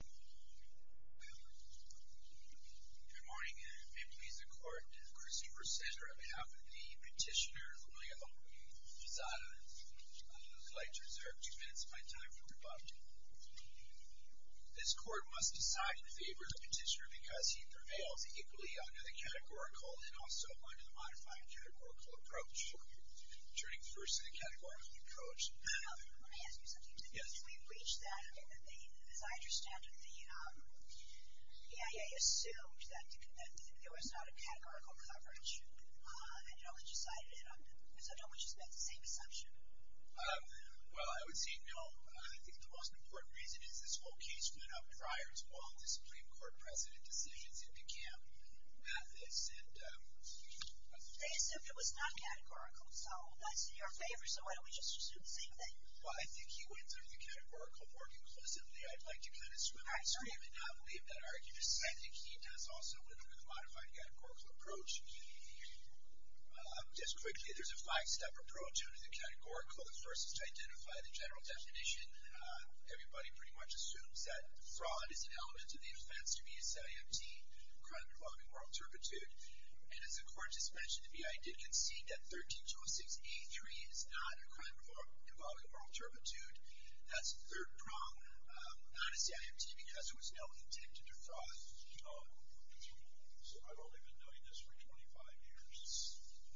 Good morning. May it please the court, Christopher Sender on behalf of the petitioner, Julio Lozada, would like to reserve two minutes of my time for rebuttal. This court must decide in favor of the petitioner because he prevails equally under the categorical and also under the modified categorical approach. Turning first to the categorical approach. Let me ask you something. Yes. Did we breach that? As I understand it, the EIA assumed that there was not a categorical coverage, and it only decided it. So don't we just make the same assumption? Well, I would say no. I think the most important reason is this whole case went up prior to all the Supreme Court precedent decisions. It began at this. They assumed it was not categorical, so that's in your favor. So why don't we just assume the same thing? Well, I think he went through the categorical more conclusively. I'd like to kind of swim back to him and not believe that argument. I think he does also live under the modified categorical approach. Just quickly, there's a five-step approach under the categorical. The first is to identify the general definition. Everybody pretty much assumes that fraud is an element of the offense to be a set empty, crime involving moral turpitude. And as the court just mentioned, the EIA did concede that 13206A3 is not a crime involving moral turpitude. That's the third prong. Not a CIMT because there was no intent to defraud. So I've only been doing this for 25 years,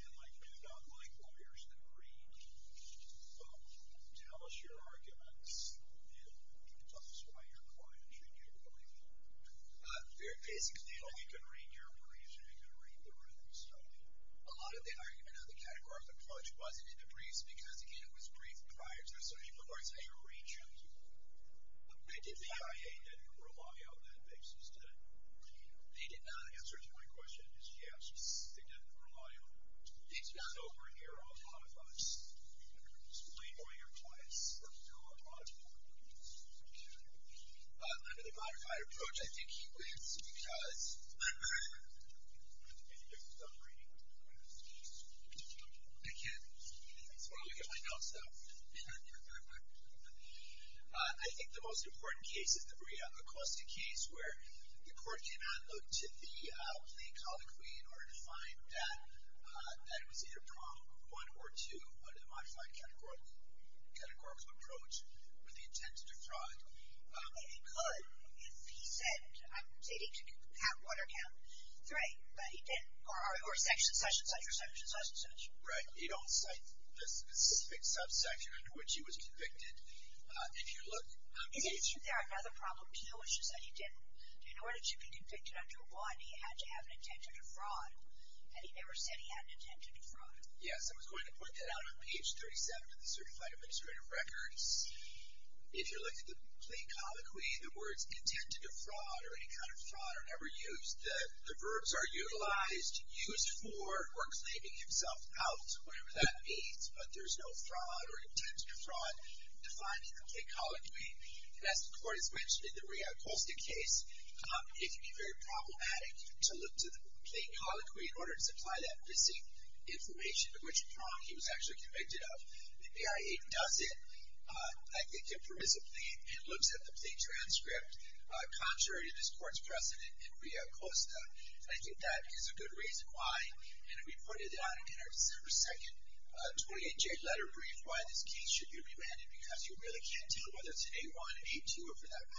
and I do not like lawyers that read, tell us your arguments, and tell us why you're quiet, and you believe them. Basically, they know you can read your briefs, and you can read the written stuff. A lot of the argument under the categorical approach wasn't in the briefs because, again, it was briefed prior to it, so people are saying, read your briefs. The EIA didn't rely on that basis, did it? They did not. The answer to my question is yes, they didn't rely on it. It's not over here on Modify's. Explain why you're quiet. That's still on Modify. Under the Modified approach, I think he wins because, remember, I can't get my notes out. I think the most important case is the Brianna Acosta case where the court cannot look to the plaintiff's aliquot in order to find that it was either prong one or two, but in the Modified categorical approach, with the intent to defraud. And he could if he said, I'm stating to have one or count three, but he didn't, or section, such and such, or section, such and such. Right. He don't cite a specific subsection under which he was convicted. If you look. Is there another problem, too, which is that he didn't? In order to be convicted under one, he had to have an intent to defraud, and he never said he had an intent to defraud. Yes. I was going to point that out on page 37 of the Certified Administrative Records. If you look at the plain colloquy, the words intent to defraud or any kind of fraud are never used. The verbs are utilized, used for, or claiming himself out, whatever that means, but there's no fraud or intent to defraud defined in the plain colloquy. And as the court has mentioned in the Brianna Acosta case, it can be very problematic to look to the plain colloquy in order to supply that missing information of which prong he was actually convicted of. The AI-8 does it. I think it looks at the plain transcript contrary to this court's precedent in Brianna Acosta, and I think that is a good reason why. And we put it out in our December 2nd 28-J letter brief why this case should be remanded, because you really can't tell whether it's an A-1, A-2, or for that matter,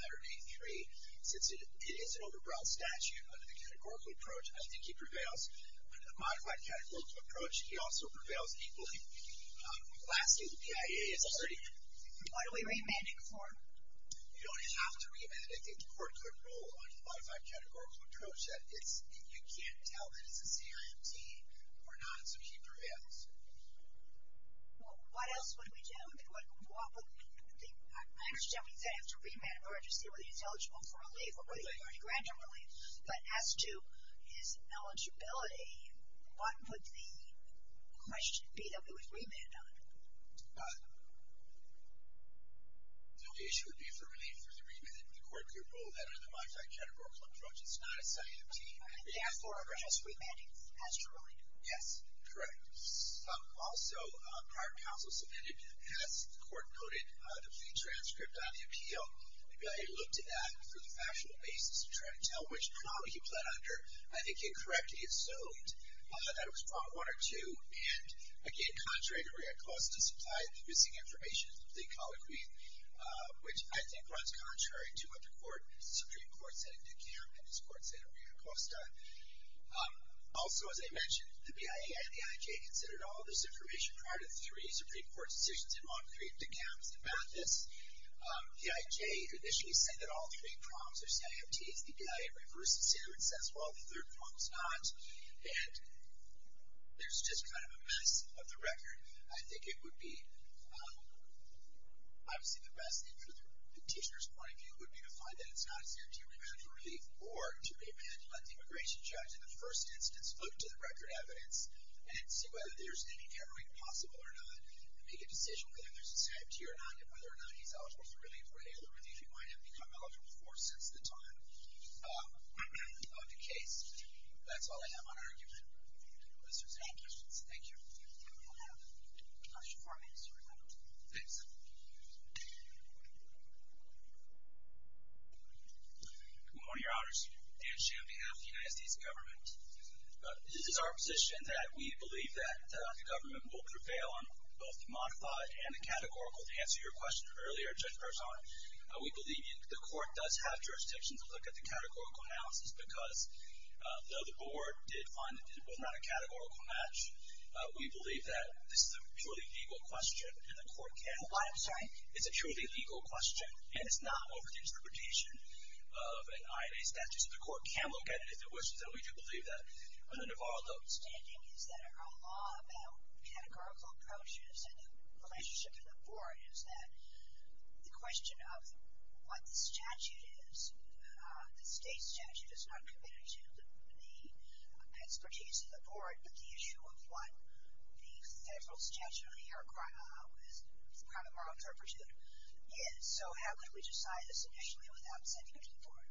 A-3, since it is an overbroad statute under the categorical approach. I think he prevails under the modified categorical approach. He also prevails equally. Lastly, the PIA is already in. What are we remanding for? You don't have to remand. I think the court could rule under the modified categorical approach that you can't tell that it's a C-I-M-T or not, so he prevails. Well, what else would we do? I understand we said after remand of urgency, whether he's eligible for relief or whether he's already granted relief. But as to his eligibility, what would the question be that we would remand on? The issue would be for relief or the remand under the court could rule that under the modified categorical approach, it's not a C-I-M-T. And therefore, we're just remanding as to relief. Yes, correct. Also, prior counsel submitted, as the court noted, the plain transcript on the appeal. The PIA looked at that for the factual basis to try to tell which problem he pled under. I think incorrectly, it showed that it was problem one or two. And again, contrary to Ria Costa's supplied missing information, the colloquy, which I think runs contrary to what the Supreme Court said in Dekam and his court said in Ria Costa. Also, as I mentioned, the PIA and the IJ considered all this information prior to three Supreme Court decisions in Montclair, Dekam, and Mathis. The IJ initially said that all three problems are C-I-M-T's. The PIA reverses it and says, well, the third problem's not. And there's just kind of a mess of the record. I think it would be obviously the best thing from the petitioner's point of view would be to find that it's not a C-I-M-T remand for relief or to remand and let the immigration judge in the first instance look to the record evidence and see whether there's any hemorrhage possible or not and make a decision whether there's a C-I-M-T or not and whether or not he's eligible for relief or any other relief he might have become eligible for since the time of the case. That's all I have on argument. If there's any questions, thank you. We'll have a question for Mr. Ria Costa. Thanks. Good morning, Your Honors. Dan Sham on behalf of the United States government. This is our position that we believe that the government will prevail on both the modified and the categorical. To answer your question earlier, Judge Perzon, we believe the court does have jurisdiction to look at the categorical analysis because though the board did find that it was not a categorical match, we believe that this is a truly legal question and the court can look at it. I'm sorry. It's a truly legal question, and it's not over the interpretation of an IIA statute. The court can look at it if it wishes, and we do believe that. And then if our understanding is that our law about categorical approaches and the relationship to the board is that the question of what the statute is, the state statute is not committed to the expertise of the board, but the issue of what the federal statute, as part of our interpretation, is. So how could we decide this initially without sending it to the board?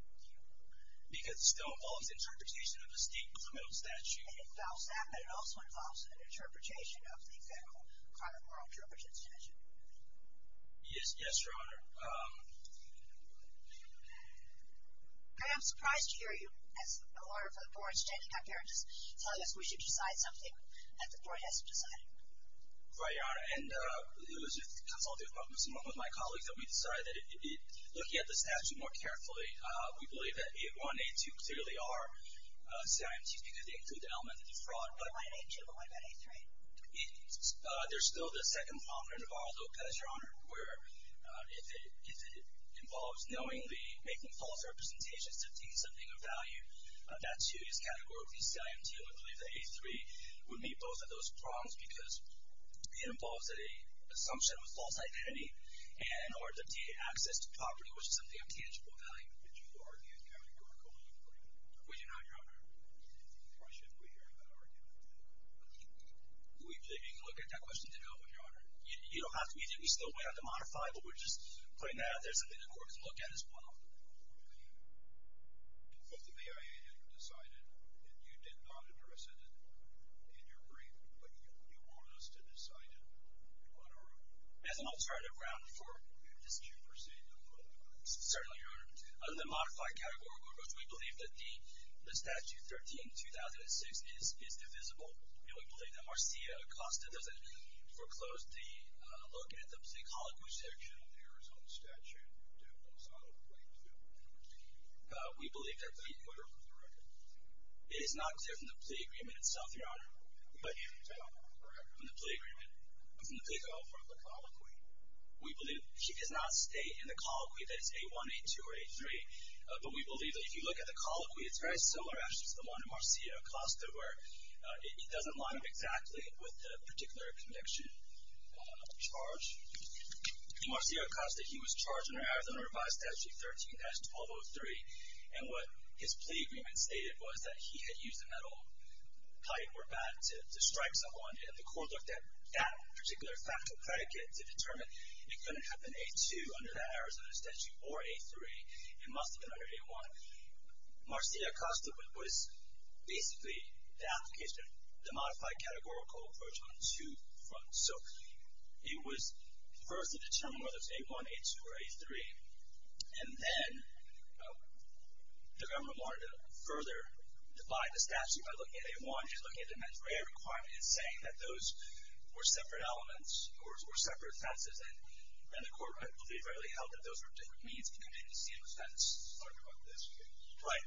Because it still involves interpretation of the state criminal statute. And it involves that, but it also involves an interpretation of the federal criminal moral interpretation statute. Yes, Your Honor. I am surprised to hear you, as a lawyer for the board, standing up here and just telling us we should decide something that the board hasn't decided. Right, Your Honor. And it was with consultative problems, along with my colleagues, that we decided that looking at the statute more carefully, we believe that A1 and A2 clearly are CIMTs because they include the element of fraud. But why not A2? But why not A3? There's still the second prominent of all, though, because, Your Honor, where if it involves knowingly making false representations to obtain something of value, that, too, is categorically CIMT. So we believe that A3 would meet both of those problems because it involves an assumption of a false identity and or the access to property, which is something of tangible value. Did you argue that categorically? We did not, Your Honor. Why should we hear that argument? We didn't even look at that question today, Your Honor. You don't have to. We still went out to modify, but we're just putting that out there. Something the court has looked at as one of them. If the BIA had decided, and you did not address it in your brief, but you want us to decide it on our own. As an alternative ground for dispute proceeding, Your Honor. Certainly, Your Honor. Under the modified categorical approach, we believe that the statute 13-2006 is divisible. We believe that Marcia Acosta doesn't foreclose the look at the psychology section. We believe that the order of the record is not clear from the plea agreement itself, Your Honor. From the plea agreement? From the plea call for the colloquy. We believe she does not stay in the colloquy that is A1, A2, or A3, but we believe that if you look at the colloquy, it's very similar actually to the one of Marcia Acosta where it doesn't line up exactly with the particular conviction charge. Marcia Acosta, he was charged under Arizona Revised Statute 13-1203, and what his plea agreement stated was that he had used a metal pipe or bat to strike someone, and the court looked at that particular fact of predicate to determine it couldn't have been A2 under that Arizona statute or A3. It must have been under A1. Marcia Acosta was basically the application of the modified categorical approach on two fronts. So it was first to determine whether it was A1, A2, or A3, and then the government wanted to further divide the statute by looking at A1 and looking at the METS-RAEA requirement and saying that those were separate elements or separate offenses, and the court, I believe, readily held that those were different means of committing the same offense. Right.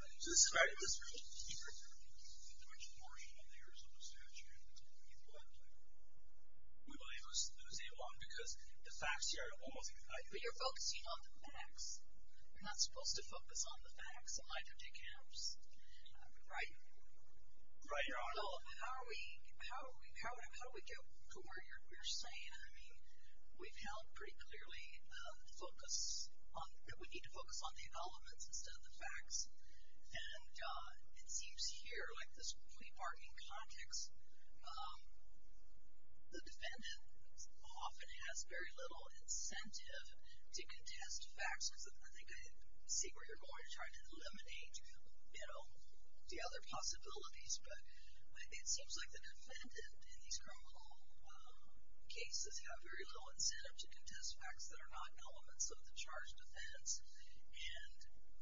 But you're focusing on the facts. You're not supposed to focus on the facts. It might take hours. Right? Right, Your Honor. So how do we get to where you're saying? We've held pretty clearly that we need to focus on the elements instead of the facts, and it seems here, like this plea bargain context, the defendant often has very little incentive to contest facts. I think I see where you're going to try to eliminate the other possibilities, but it seems like the defendant in these criminal cases have very little incentive to contest facts that are not elements of the charged offense and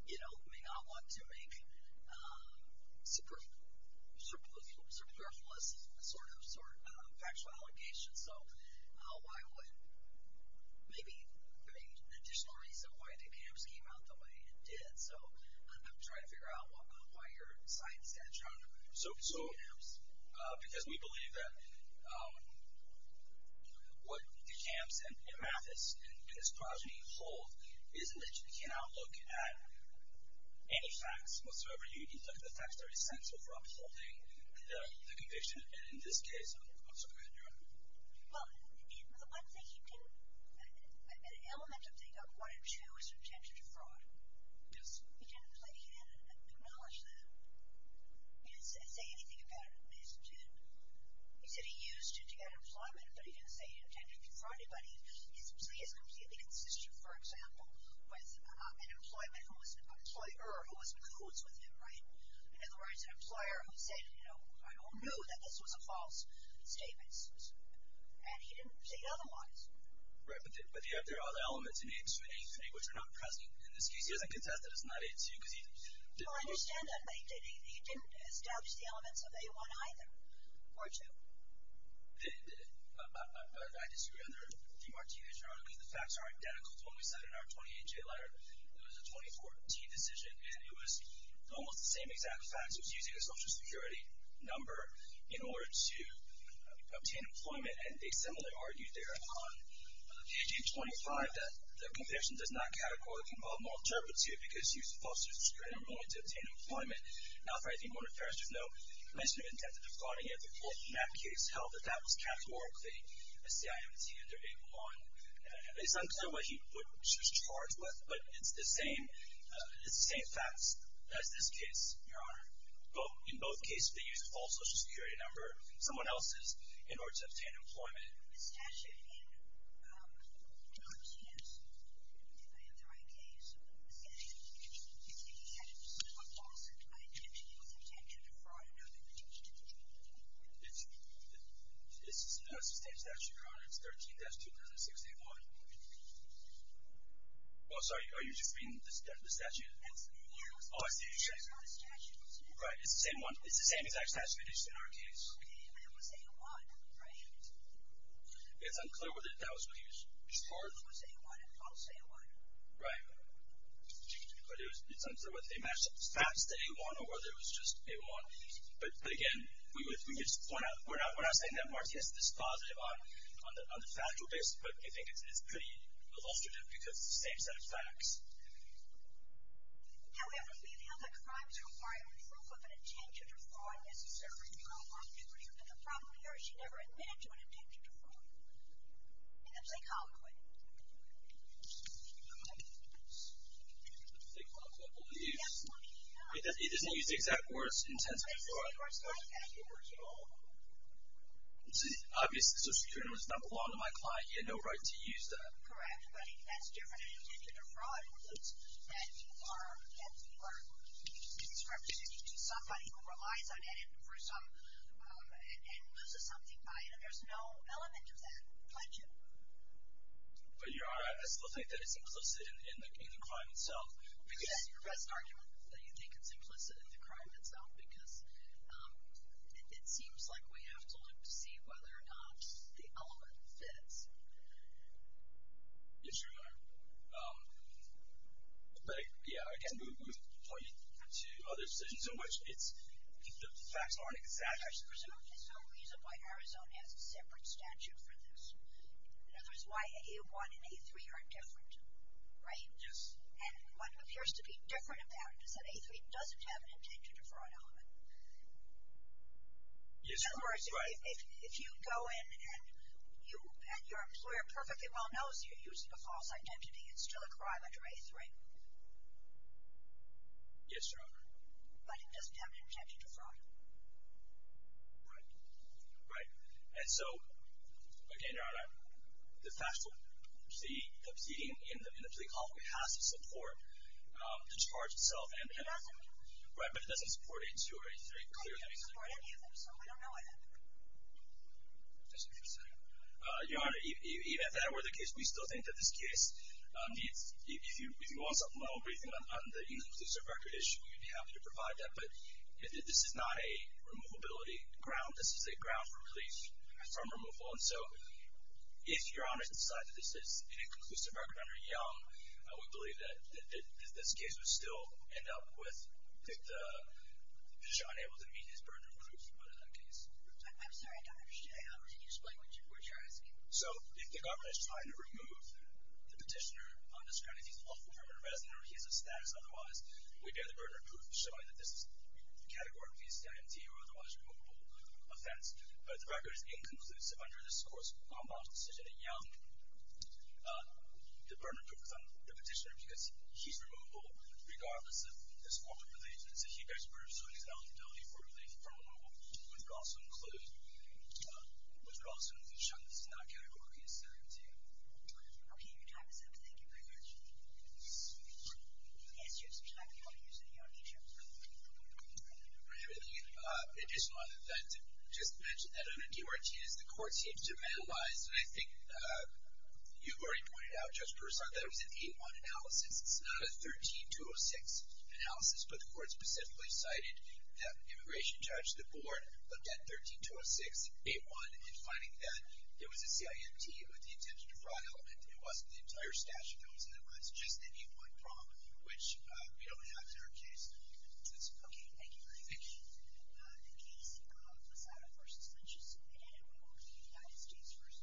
may not want to make superfluous sort of factual allegations. So why would maybe an additional reason why the camps came out the way it did? So I'm trying to figure out why you're citing that charge. So because we believe that what the camps and Amathus and his progeny hold is that you cannot look at any facts whatsoever. You need to look at the facts that are essential for upholding the conviction, and in this case, I'm sorry. Go ahead, Your Honor. Well, the one thing he didn't, an element of thing of one and two is an intention to fraud. Yes. He didn't acknowledge that. He didn't say anything about it. He said he used it to get employment, but he didn't say he intended to fraud anybody. His plea is completely consistent, for example, with an employer who was in cahoots with him, right? In other words, an employer who said, you know, I don't know that this was a false statement, and he didn't say otherwise. Right, but there are other elements in A-2 and A-3 which are not present. In this case, he doesn't contest that it's not A-2 because he didn't use it. Well, I understand that, but he didn't establish the elements of A-1 either or A-2. He didn't, did he? I disagree. Under D. Martinez, Your Honor, I believe the facts are identical to what we said in our 28-J letter. It was a 2014 decision, and it was almost the same exact facts. He was using a Social Security number in order to obtain employment, and they similarly argued there on page 825 that the conviction does not categorically involve moral turpitude because he used a false Social Security number in order to obtain employment. Now, if I may, Your Honor, if there is no mention of intent to defrauding anybody, the court in that case held that that was categorically a CIMT under A-1. It's unclear what he was charged with, but it's the same facts as this case, Your Honor. In both cases, they used a false Social Security number, someone else's, in order to obtain employment. The statute in D. Martinez, if I have the right case, said that he had a false intent to use intent to defraud another individual. It's the same statute, Your Honor. It's 13-2006-A-1. Oh, sorry. Are you just reading the statute? Oh, I see. Right. It's the same one. It's the same exact statute as in our case. Okay, but it was A-1, right? It's unclear whether that was what he was charged with. It was A-1, a false A-1. Right. But it's unclear whether they matched the facts to A-1 or whether it was just A-1. But, again, we're not saying that Martinez is positive on the factual basis, but I think it's pretty illustrative because it's the same set of facts. However, we feel that crimes requiring proof of an intent to defraud necessarily do not constitute a criminal charge. He never admitted to an intent to defraud. And that's a common one. He didn't use the exact words, intent to defraud. He didn't use the exact words at all. Obviously, social security numbers don't belong to my client. He had no right to use that. Correct, but that's different in an intent to defraud. It's that you are misrepresenting somebody who relies on it and loses something by it, and there's no element of that. But your Honor, I still think that it's implicit in the crime itself. Which is your best argument, that you think it's implicit in the crime itself, because it seems like we have to look to see whether or not the element fits. Yes, Your Honor. But, yeah, again, we would point you to other decisions in which the facts aren't exact. There's presumed there's no reason why Arizona has a separate statute for this. In other words, why A1 and A3 are different, right? Yes. And what appears to be different about it is that A3 doesn't have an intent to defraud element. Yes, Your Honor. In other words, if you go in and your employer perfectly well knows you're using a false identity, Yes, Your Honor. but it doesn't have the intent to defraud you. Right. Right. And so, again, Your Honor, the fact that the proceeding in the plea court has to support the charge itself. It doesn't. Right, but it doesn't support A2 or A3, clearly. It doesn't support any of them, so we don't know it. That's what you're saying. Your Honor, even if that were the case, we still think that this case needs, if you want something on the inconclusive record issue, we'd be happy to provide that, but this is not a removability ground. This is a ground for release from removal, and so if Your Honor decides that this is an inconclusive record under Young, I would believe that this case would still end up with the petitioner unable to meet his burden of proof. I'm sorry, I don't understand. Can you explain what you're asking? So if the governor is trying to remove the petitioner on this ground, if he's a lawful permanent resident or he has a status otherwise, we bear the burden of proof showing that this is categorically a stand-in deal or otherwise removable offense, but if the record is inconclusive under this court's compound decision in Young, the burden of proof is on the petitioner because he's removable regardless of this form of release, and so he bears proof, so he's eligible for release from removal. Would it also include showing that this is not categorically a stand-in deal? Okay. Your time is up. Thank you very much. Yes, Your Honor. Would you like me to use any other issues? I have an additional item that I'd like to just mention. I don't know if you, Martinez, the court seems to have analyzed, and I think you've already pointed out, Judge Peruzza, that it was an 8-1 analysis. It's not a 13-206 analysis, but the court specifically cited that immigration judge, the board, looked at 13-206, 8-1, and finding that there was a CIMT with the intention to fraud element, and it wasn't the entire stash of those, and it was just an 8-1 prompt, which we don't have in our case. Okay. Thank you very much. Thank you.